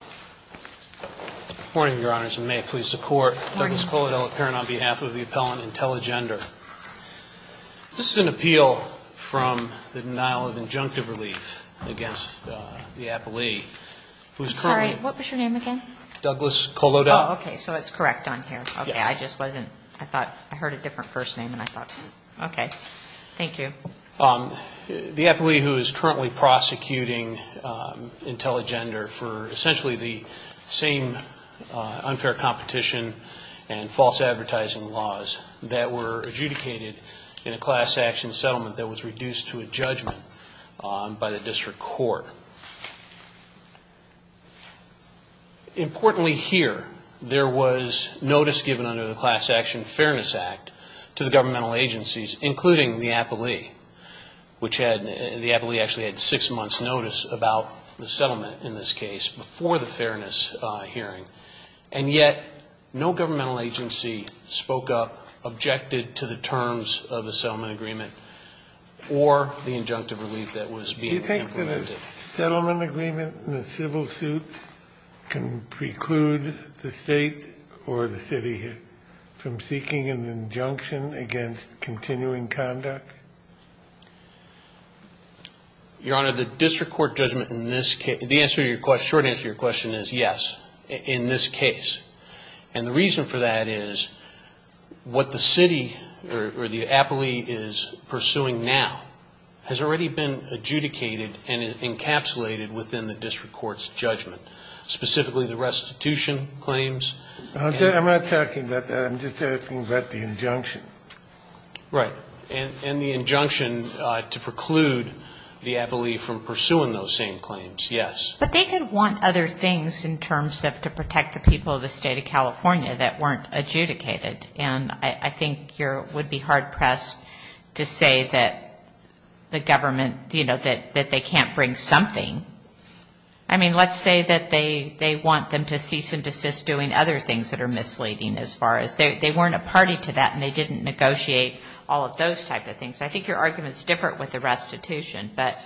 Good morning, Your Honors, and may it please the Court. Good morning. Douglas Kolodell, apparent on behalf of the appellant Intelligender. This is an appeal from the denial of injunctive relief against the appellee who is currently Sorry, what was your name again? Douglas Kolodell. Oh, okay, so it's correct on here. Yes. Okay, I just wasn't, I thought, I heard a different first name and I thought, okay, thank you. The appellee who is currently prosecuting Intelligender for essentially the same unfair competition and false advertising laws that were adjudicated in a class action settlement that was reduced to a judgment by the district court. Importantly here, there was notice given under the Class Action Fairness Act to the governmental agencies, including the appellee, which the appellee actually had six months' notice about the settlement in this case before the fairness hearing, and yet no governmental agency spoke up, objected to the terms of the settlement agreement or the injunctive relief that was being implemented. Do you think that a settlement agreement in a civil suit can preclude the state or the city from seeking an injunction against continuing conduct? Your Honor, the district court judgment in this case, the short answer to your question is yes, in this case. And the reason for that is what the city or the appellee is pursuing now has already been adjudicated and encapsulated within the district court's judgment, specifically the restitution claims. I'm not talking about that. I'm just asking about the injunction. Right. And the injunction to preclude the appellee from pursuing those same claims, yes. But they could want other things in terms of to protect the people of the State of California that weren't adjudicated, and I think you would be hard-pressed to say that the government, you know, that they can't bring something. I mean, let's say that they want them to cease and desist doing other things that are misleading as far as they weren't a party to that and they didn't negotiate all of those type of things. I think your argument is different with the restitution, but.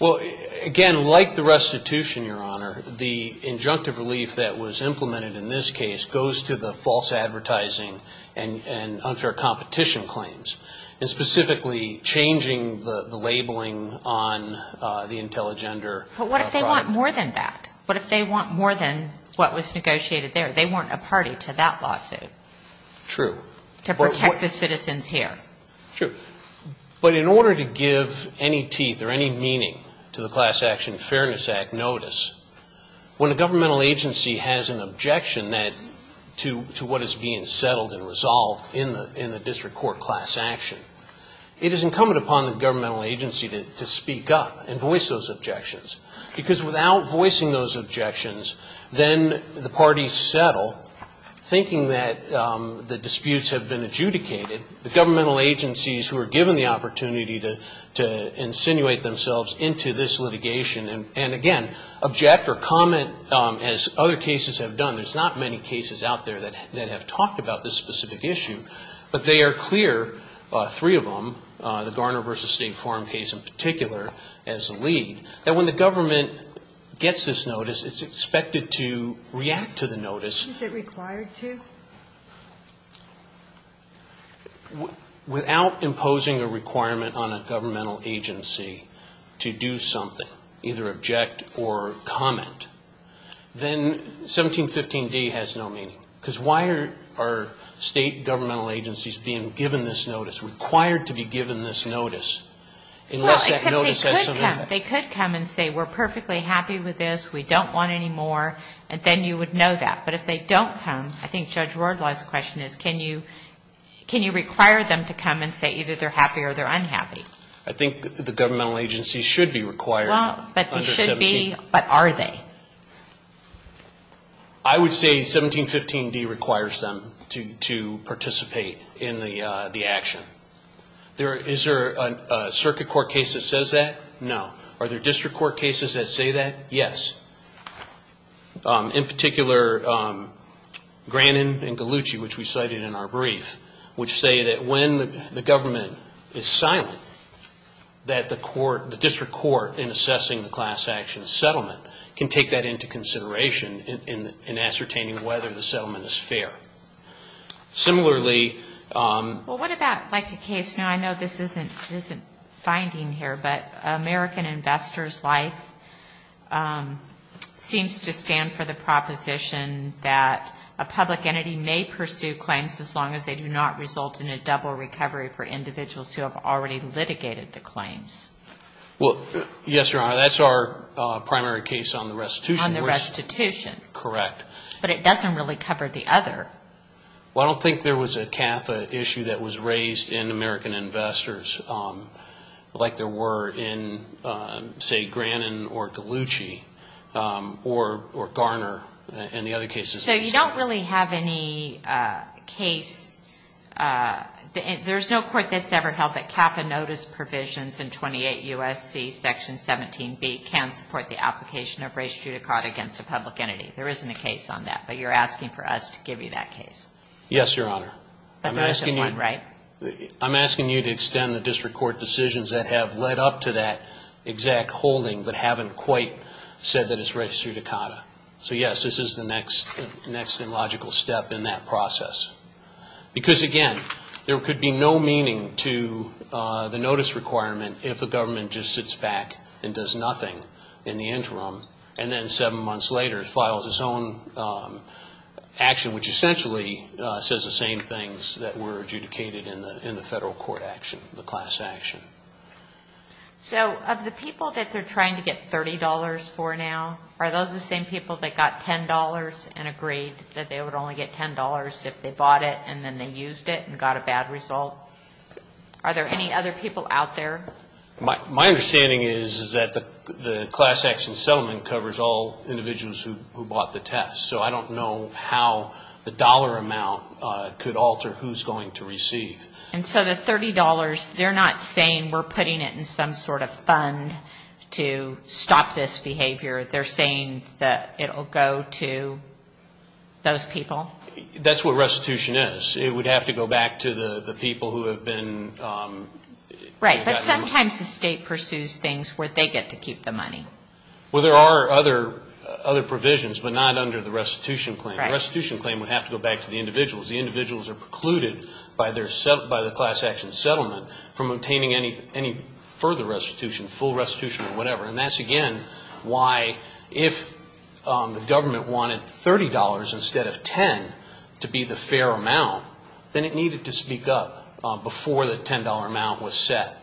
Well, again, like the restitution, Your Honor, the injunctive relief that was implemented in this case goes to the false advertising and unfair competition claims. And specifically changing the labeling on the intelligender. But what if they want more than that? What if they want more than what was negotiated there? They weren't a party to that lawsuit. True. To protect the citizens here. True. But in order to give any teeth or any meaning to the Class Action Fairness Act notice, when a governmental agency has an objection to what is being settled and resolved in the district court class action, it is incumbent upon the governmental agency to speak up and voice those objections because without voicing those objections, then the parties settle thinking that the disputes have been adjudicated. The governmental agencies who are given the opportunity to insinuate themselves into this litigation and, again, object or comment as other cases have done. There's not many cases out there that have talked about this specific issue, but they are clear, three of them, the Garner v. State Farm case in particular as a lead, that when the government gets this notice, it's expected to react to the notice. Is it required to? Without imposing a requirement on a governmental agency to do something, either object or comment, then 1715D has no meaning. Because why are State governmental agencies being given this notice, required to be given this notice, unless that notice has some meaning? Well, except they could come. They could come and say, we're perfectly happy with this, we don't want any more, and then you would know that. But if they don't come, I think Judge Wardlaw's question is, can you require them to come and say either they're happy or they're unhappy? I think the governmental agencies should be required under 1715. But are they? I would say 1715D requires them to participate in the action. Is there a circuit court case that says that? No. Are there district court cases that say that? Yes. In particular, Granin and Gallucci, which we cited in our brief, which say that when the government is silent, that the court, the district court in assessing the class action settlement, can take that into consideration in ascertaining whether the settlement is fair. Similarly. Well, what about like a case, now I know this isn't finding here, but American Investors Life seems to stand for the proposition that a public entity may pursue claims as long as they do not result in a double recovery for individuals who have already litigated the claims. Well, yes, Your Honor, that's our primary case on the restitution. On the restitution. Correct. But it doesn't really cover the other. Well, I don't think there was a CAFA issue that was raised in American Investors like there were in, say, Granin or Gallucci or Garner and the other cases. So you don't really have any case. There's no court that's ever held that CAFA notice provisions in 28 U.S.C. Section 17B can support the application of res judicata against a public entity. There isn't a case on that, but you're asking for us to give you that case. Yes, Your Honor. But there isn't one, right? I'm asking you to extend the district court decisions that have led up to that exact holding but haven't quite said that it's res judicata. So, yes, this is the next logical step in that process. Because, again, there could be no meaning to the notice requirement if the government just sits back and does nothing in the interim and then seven months later files its own action, which essentially says the same things that were adjudicated in the federal court action, the class action. So of the people that they're trying to get $30 for now, are those the same people that got $10 and agreed that they would only get $10 if they bought it and then they used it and got a bad result? Are there any other people out there? My understanding is that the class action settlement covers all individuals who bought the test. So I don't know how the dollar amount could alter who's going to receive. And so the $30, they're not saying we're putting it in some sort of fund to stop this behavior. They're saying that it will go to those people? That's what restitution is. It would have to go back to the people who have been. Right, but sometimes the state pursues things where they get to keep the money. Well, there are other provisions, but not under the restitution claim. The restitution claim would have to go back to the individuals. The individuals are precluded by the class action settlement from obtaining any further restitution, full restitution or whatever. And that's, again, why if the government wanted $30 instead of $10 to be the fair amount, then it needed to speak up before the $10 amount was set.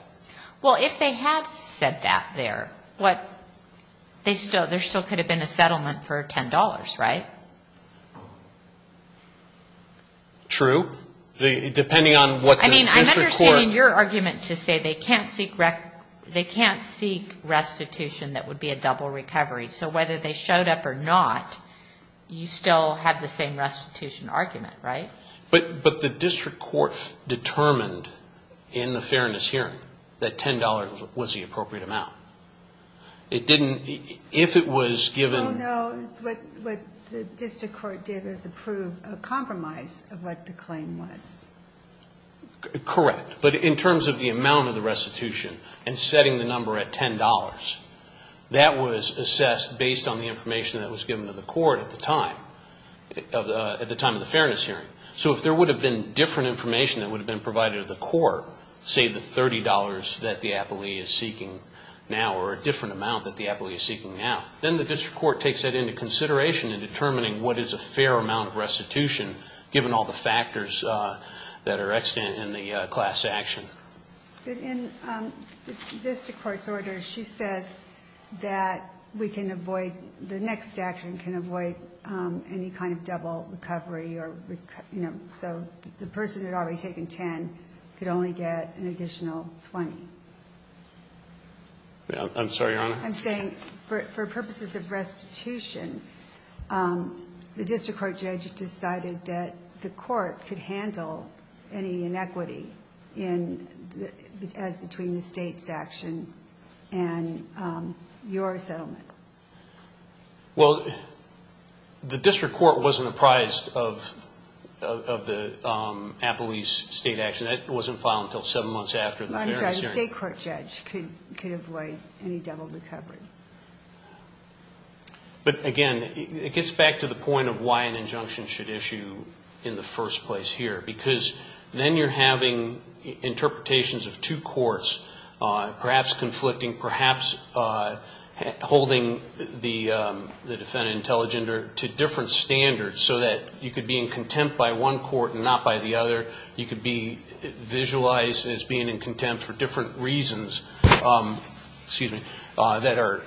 Well, if they had said that there, there still could have been a settlement for $10, right? True, depending on what the district court. I mean, I'm understanding your argument to say they can't seek restitution that would be a double recovery. So whether they showed up or not, you still have the same restitution argument, right? But the district court determined in the fairness hearing that $10 was the appropriate amount. It didn't, if it was given. Well, no, what the district court did was approve a compromise of what the claim was. Correct. But in terms of the amount of the restitution and setting the number at $10, that was assessed based on the information that was given to the court at the time, at the time of the fairness hearing. So if there would have been different information that would have been provided to the court, say the $30 that the appellee is seeking now or a different amount that the appellee is seeking now, then the district court takes that into consideration in determining what is a fair amount of restitution, given all the factors that are extant in the class action. But in the district court's order, she says that we can avoid, the next action can avoid any kind of double recovery or, you know, so the person had already taken $10 could only get an additional $20. I'm sorry, Your Honor? I'm saying for purposes of restitution, the district court judge decided that the court could handle any inequity in, as between the state's action and your settlement. Well, the district court wasn't apprised of the appellee's state action. That wasn't filed until seven months after the fairness hearing. The state court judge could avoid any double recovery. But, again, it gets back to the point of why an injunction should issue in the first place here, because then you're having interpretations of two courts perhaps conflicting, perhaps holding the defendant intelligent to different standards so that you could be in contempt by one court and not by the other. You could be visualized as being in contempt for different reasons, excuse me, that are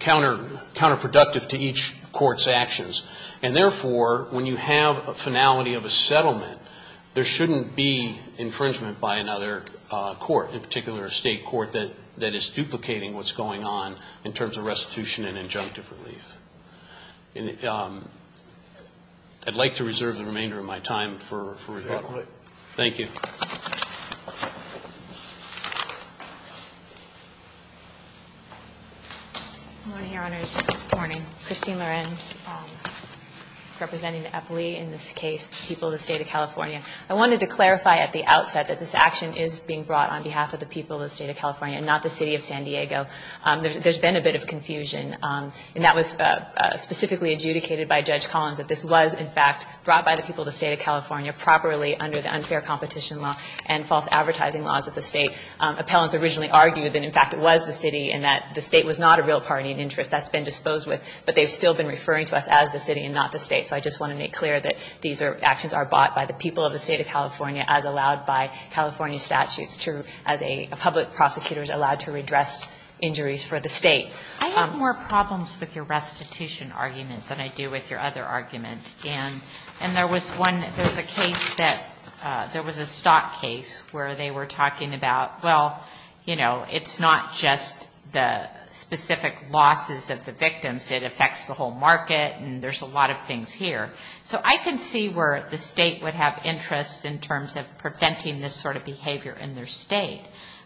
counterproductive to each court's actions. And, therefore, when you have a finality of a settlement, there shouldn't be infringement by another court, in particular a state court, that is duplicating what's going on in terms of restitution and injunctive relief. I'd like to reserve the remainder of my time for rebuttal. Thank you. Good morning, Your Honors. Good morning. Christine Lorenz, representing the appellee in this case, the people of the State of California. I wanted to clarify at the outset that this action is being brought on behalf of the people of the State of California and not the City of San Diego. There's been a bit of confusion, and that was specifically adjudicated by Judge Collins, that this was, in fact, brought by the people of the State of California properly under the unfair competition law and false advertising laws of the State. Appellants originally argued that, in fact, it was the City and that the State was not a real party in interest. That's been disposed with. But they've still been referring to us as the City and not the State. So I just want to make clear that these actions are bought by the people of the State of California as allowed by California statutes to, as public prosecutors allowed to redress injuries for the State. I have more problems with your restitution argument than I do with your other argument. And there was one, there was a case that, there was a stock case where they were talking about, well, you know, it's not just the specific losses of the victims. It affects the whole market, and there's a lot of things here. So I can see where the State would have interest in terms of preventing this sort of behavior in their State.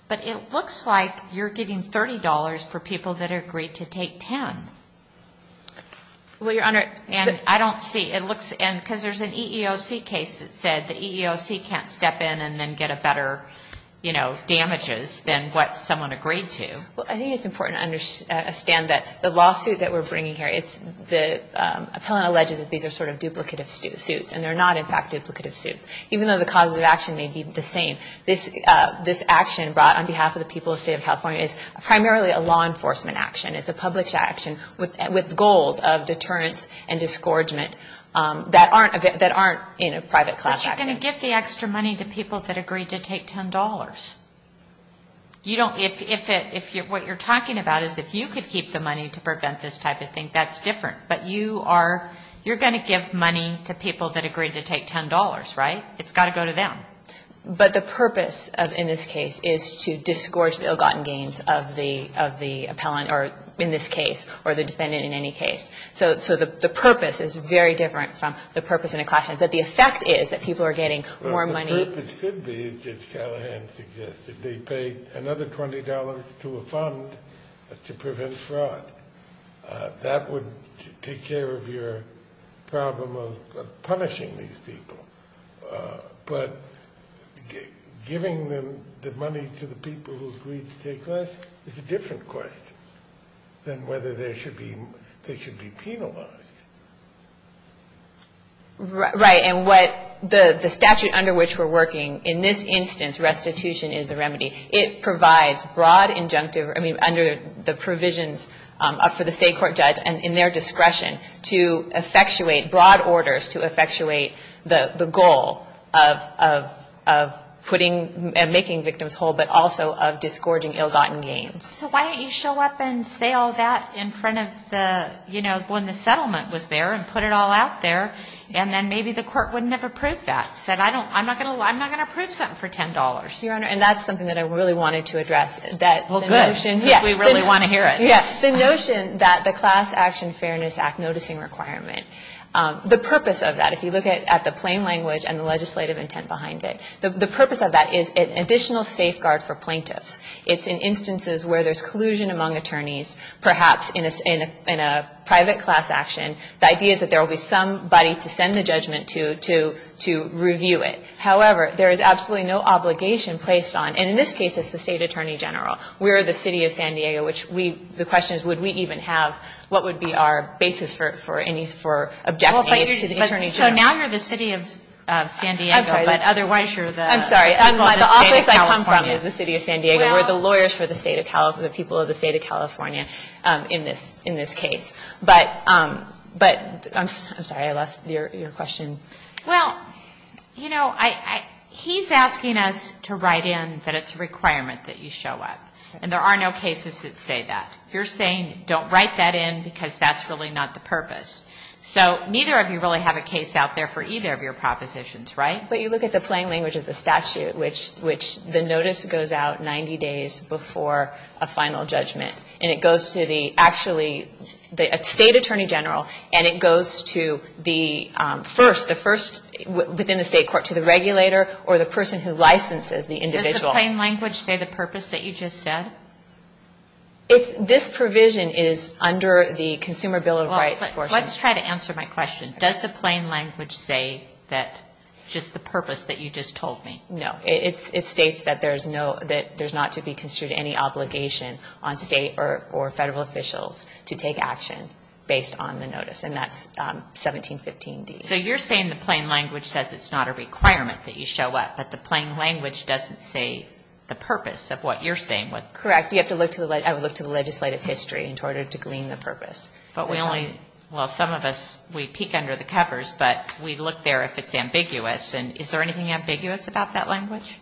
But it looks like you're giving $30 for people that agreed to take $10. Well, Your Honor. And I don't see, it looks, because there's an EEOC case that said the EEOC can't step in and then get a better, you know, damages than what someone agreed to. Well, I think it's important to understand that the lawsuit that we're bringing here, the appellant alleges that these are sort of duplicative suits, and they're not, in fact, duplicative suits. Even though the causes of action may be the same, this action brought on behalf of the people of the State of California is primarily a law enforcement action. It's a public action with goals of deterrence and disgorgement that aren't in a private class action. But you're going to give the extra money to people that agreed to take $10. You don't, if it, what you're talking about is if you could keep the money to prevent this type of thing, that's different. But you are, you're going to give money to people that agreed to take $10, right? It's got to go to them. But the purpose in this case is to disgorge the ill-gotten gains of the appellant, or in this case, or the defendant in any case. So the purpose is very different from the purpose in a class action. But the effect is that people are getting more money. The purpose could be, as Judge Callahan suggested, they pay another $20 to a fund to prevent fraud. That would take care of your problem of punishing these people. But giving the money to the people who agreed to take less is a different question than whether they should be penalized. Right. And what the statute under which we're working, in this instance restitution is the remedy. It provides broad injunctive, I mean, under the provisions for the state court judge and in their discretion to effectuate, broad orders to effectuate the goal of putting and making victims whole, but also of disgorging ill-gotten gains. So why don't you show up and say all that in front of the, you know, when the settlement was there and put it all out there, and then maybe the court wouldn't have approved that, said, I'm not going to approve something for $10. Your Honor, and that's something that I really wanted to address. Well, good. We really want to hear it. Yes. The notion that the Class Action Fairness Act noticing requirement, the purpose of that, if you look at the plain language and the legislative intent behind it, the purpose of that is an additional safeguard for plaintiffs. It's in instances where there's collusion among attorneys, perhaps in a private class action. The idea is that there will be somebody to send the judgment to, to review it. However, there is absolutely no obligation placed on, and in this case it's the State Attorney General. We're the City of San Diego, which we the question is would we even have, what would be our basis for any, for objecting to the Attorney General. So now you're the City of San Diego, but otherwise you're the people of the State of California. I'm sorry. The office I come from is the City of San Diego. We're the lawyers for the people of the State of California in this case. But I'm sorry, I lost your question. Well, you know, he's asking us to write in that it's a requirement that you show up. And there are no cases that say that. You're saying don't write that in because that's really not the purpose. So neither of you really have a case out there for either of your propositions, right? But you look at the plain language of the statute, which the notice goes out 90 days before a final judgment. And it goes to the actually, the State Attorney General, and it goes to the first, the first within the State court, to the regulator or the person who licenses the individual. Does the plain language say the purpose that you just said? This provision is under the Consumer Bill of Rights portion. Well, let's try to answer my question. Does the plain language say just the purpose that you just told me? No. It states that there's not to be construed any obligation on State or Federal officials to take action based on the notice. And that's 1715d. So you're saying the plain language says it's not a requirement that you show up, but the plain language doesn't say the purpose of what you're saying. Correct. I would look to the legislative history in order to glean the purpose. But we only, well, some of us, we peek under the covers, but we look there if it's ambiguous. And is there anything ambiguous about that language?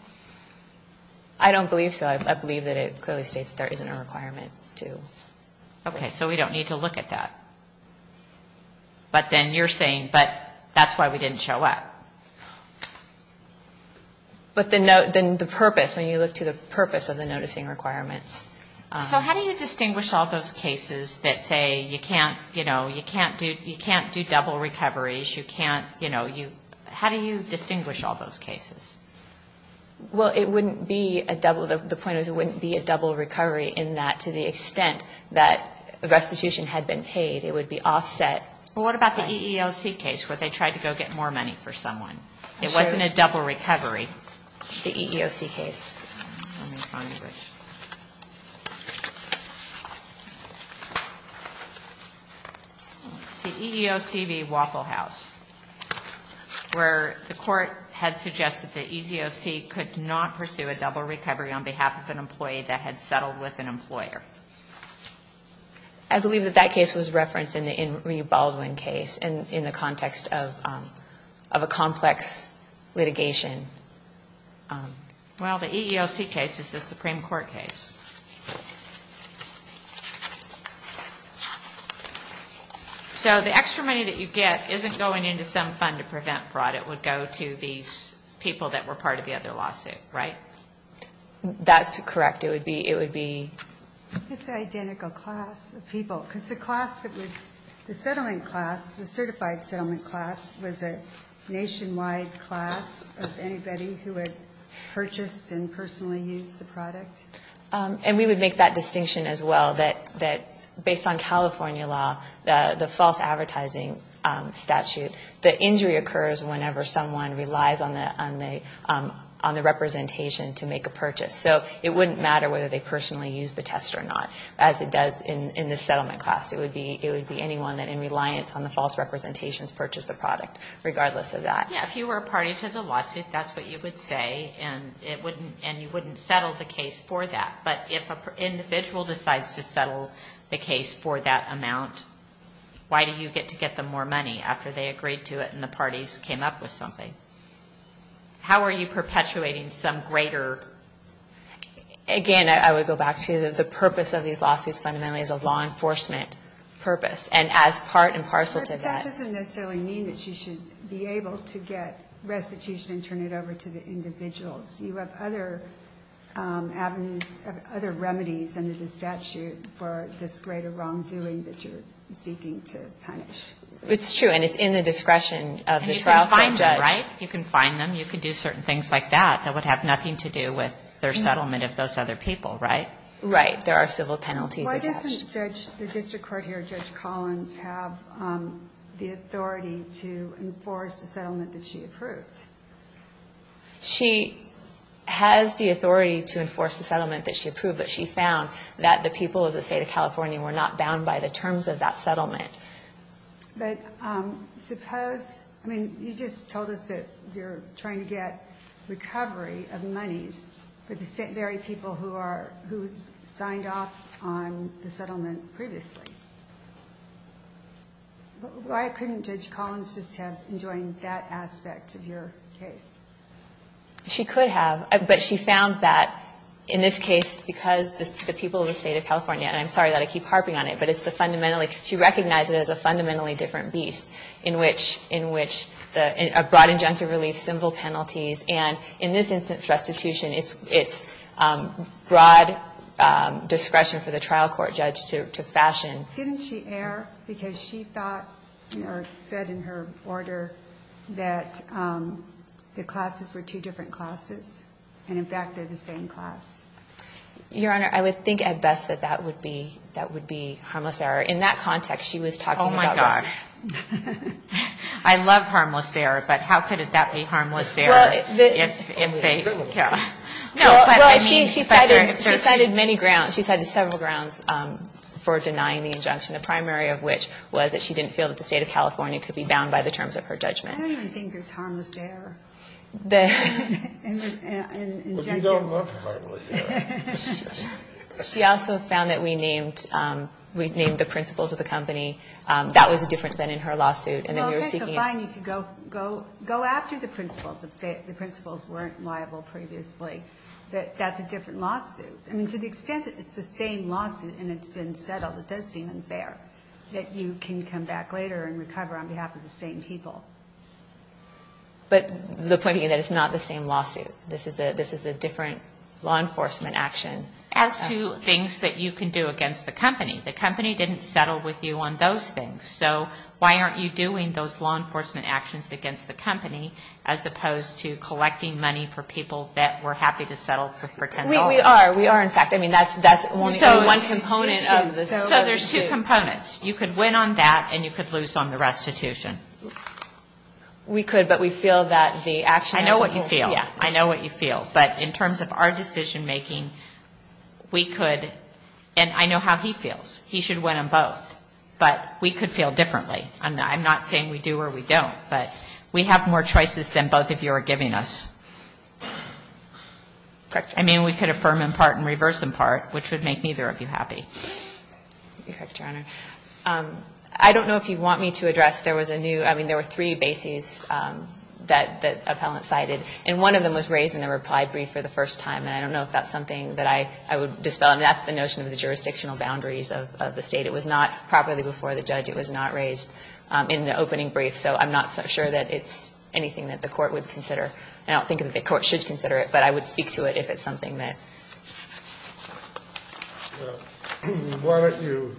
I don't believe so. I believe that it clearly states there isn't a requirement to. Okay. So we don't need to look at that. But then you're saying, but that's why we didn't show up. But the purpose, when you look to the purpose of the noticing requirements. So how do you distinguish all those cases that say you can't, you know, you can't do, you can't do double recoveries, you can't, you know, you, how do you distinguish all those cases? Well, it wouldn't be a double. The point is it wouldn't be a double recovery in that to the extent that restitution had been paid, it would be offset. Well, what about the EEOC case where they tried to go get more money for someone? It wasn't a double recovery. The EEOC case. It's the EEOC v. Waffle House, where the court had suggested that EEOC could not pursue a double recovery on behalf of an employee that had settled with an employer. I believe that that case was referenced in the Enrique Baldwin case in the context of a complex litigation. Well, the EEOC case is the Supreme Court case. So the extra money that you get isn't going into some fund to prevent fraud. It would go to these people that were part of the other lawsuit, right? That's correct. It would be, it would be. It's the identical class of people, because the class that was, the settling class, the certified settlement class was a nationwide class of anybody who had purchased and personally used the product. And we would make that distinction as well, that based on California law, the false advertising statute, the injury occurs whenever someone relies on the representation to make a purchase. So it wouldn't matter whether they personally used the test or not, as it does in the settlement class. It would be, it would be anyone that in reliance on the false representations purchased the product, regardless of that. Yeah, if you were a party to the lawsuit, that's what you would say, and it wouldn't, and you wouldn't settle the case for that. But if an individual decides to settle the case for that amount, why do you get to get them more money after they agreed to it and the parties came up with something? How are you perpetuating some greater... Again, I would go back to the purpose of these lawsuits fundamentally is a law enforcement purpose. And as part and parcel to that... But that doesn't necessarily mean that you should be able to get restitution and turn it over to the individuals. You have other avenues, other remedies under the statute for this greater wrongdoing that you're seeking to punish. It's true, and it's in the discretion of the trial court judge. And you can find them, right? You can find them. You can do certain things like that that would have nothing to do with their other people, right? Right. There are civil penalties attached. Why doesn't the district court here, Judge Collins, have the authority to enforce the settlement that she approved? She has the authority to enforce the settlement that she approved, but she found that the people of the state of California were not bound by the terms of that settlement. But suppose... I mean, you just told us that you're trying to get recovery of monies for the St. Mary people who signed off on the settlement previously. Why couldn't Judge Collins just have enjoined that aspect of your case? She could have, but she found that, in this case, because the people of the state of California... And I'm sorry that I keep harping on it, but it's the fundamentally... She recognized it as a fundamentally different beast in which a broad injunctive relief, civil penalties. And in this instance, restitution, it's broad discretion for the trial court judge to fashion. Didn't she err? Because she thought, or said in her order, that the classes were two different classes. And, in fact, they're the same class. Your Honor, I would think at best that that would be harmless error. In that context, she was talking about... Oh, my God. I love harmless error, but how could that be harmless error? Well, she cited many grounds. She cited several grounds for denying the injunction, the primary of which was that she didn't feel that the state of California could be bound by the terms of her judgment. I don't even think it's harmless error. But you don't love harmless error. She also found that we named the principals of the company. That was different than in her lawsuit. Well, okay, so fine. You can go after the principals if the principals weren't liable previously. But that's a different lawsuit. I mean, to the extent that it's the same lawsuit and it's been settled, it does seem unfair that you can come back later and recover on behalf of the same people. But the point is that it's not the same lawsuit. This is a different law enforcement action. As to things that you can do against the company, the company didn't settle with you on those things. So why aren't you doing those law enforcement actions against the company, as opposed to collecting money for people that were happy to settle for pretend dollars? We are. We are, in fact. I mean, that's only one component of the issue. So there's two components. You could win on that and you could lose on the restitution. We could, but we feel that the action is important. I know what you feel. Yeah. I know what you feel. But in terms of our decision making, we could, and I know how he feels, he should win on both. But we could feel differently. I'm not saying we do or we don't, but we have more choices than both of you are giving us. Correct. I mean, we could affirm in part and reverse in part, which would make neither of you happy. You're correct, Your Honor. I don't know if you want me to address, there was a new, I mean, there were three bases that the appellant cited, and one of them was raised in the reply brief for the first time. And I don't know if that's something that I would dispel. I mean, that's the notion of the jurisdictional boundaries of the State. It was not properly before the judge. It was not raised in the opening brief. So I'm not sure that it's anything that the Court would consider. I don't think that the Court should consider it, but I would speak to it if it's something that. Well, why don't you,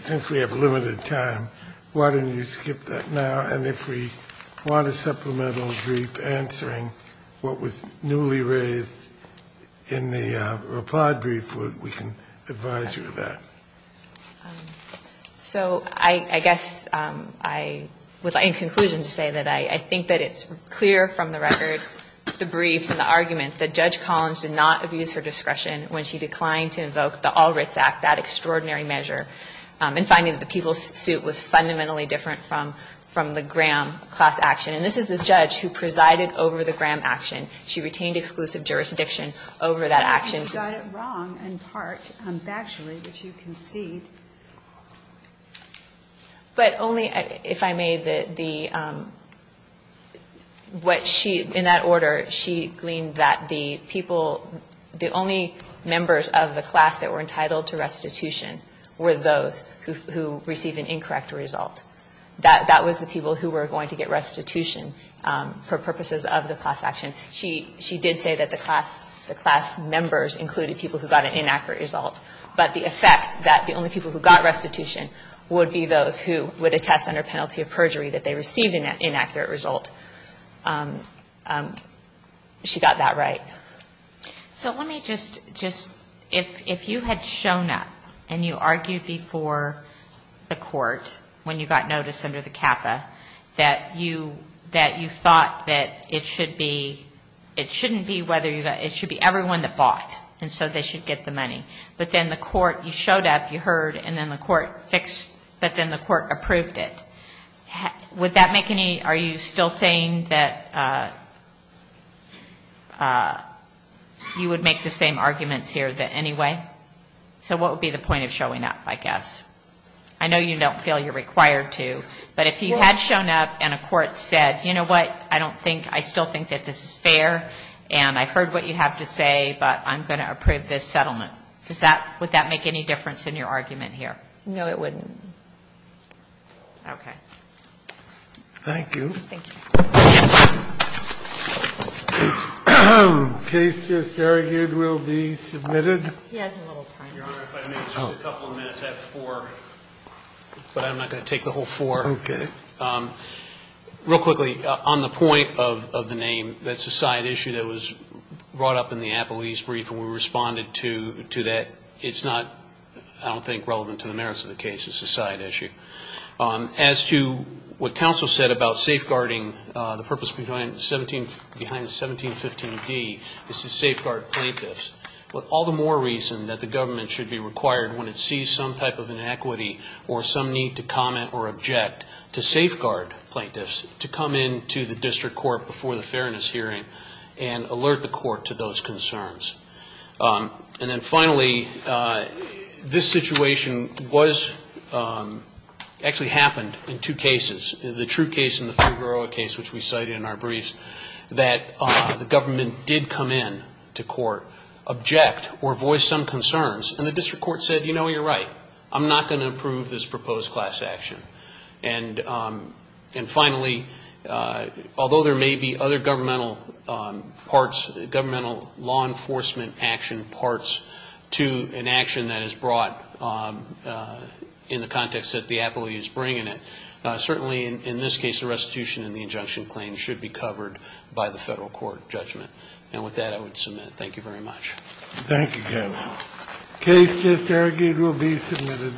since we have limited time, why don't you skip that now? And if we want a supplemental brief answering what was newly raised in the reply brief, we can advise you of that. So I guess I would like, in conclusion, to say that I think that it's clear from the record, the briefs and the argument, that Judge Collins did not abuse her discretion when she declined to invoke the All Writs Act, that extraordinary measure, in finding that the people's suit was fundamentally different from the Graham class action. And this is the judge who presided over the Graham action. She retained exclusive jurisdiction over that action. And she got it wrong, in part, factually, which you concede. But only, if I may, the what she, in that order, she gleaned that the people, the only members of the class that were entitled to restitution were those who received an incorrect result. That was the people who were going to get restitution for purposes of the class action. She did say that the class members included people who got an inaccurate result. But the effect that the only people who got restitution would be those who would attest under penalty of perjury that they received an inaccurate result. She got that right. So let me just, if you had shown up and you argued before the court when you got notice under the CAPA that you thought that it should be, it shouldn't be whether you got, it should be everyone that bought. And so they should get the money. But then the court, you showed up, you heard, and then the court fixed, but then the court approved it. Would that make any, are you still saying that you would make the same arguments here that anyway? So what would be the point of showing up, I guess? I know you don't feel you're required to. But if you had shown up and a court said, you know what, I don't think, I still think that this is fair, and I've heard what you have to say, but I'm going to approve this settlement, does that, would that make any difference in your argument here? No, it wouldn't. Okay. Thank you. Thank you. Case just argued will be submitted. He has a little time. Your Honor, if I may, just a couple of minutes. I have four, but I'm not going to take the whole four. Okay. Real quickly, on the point of the name, that's a side issue that was brought up in the Appellee's brief, and we responded to that. It's not, I don't think, relevant to the merits of the case. It's a side issue. As to what counsel said about safeguarding, the purpose behind 1715d is to safeguard plaintiffs. All the more reason that the government should be required, when it sees some type of inequity or some need to comment or object, to safeguard plaintiffs, to come into the district court before the fairness hearing and alert the court to those concerns. And then finally, this situation was, actually happened in two cases. The true case and the Figueroa case, which we cited in our briefs, that the district court object or voiced some concerns, and the district court said, you know, you're right. I'm not going to approve this proposed class action. And finally, although there may be other governmental parts, governmental law enforcement action parts to an action that is brought in the context that the Appellee is bringing it, certainly in this case, the restitution and the injunction claim should be covered by the federal court judgment. And with that, I would submit. Thank you very much. Thank you, Kevin. Case disargued will be submitted.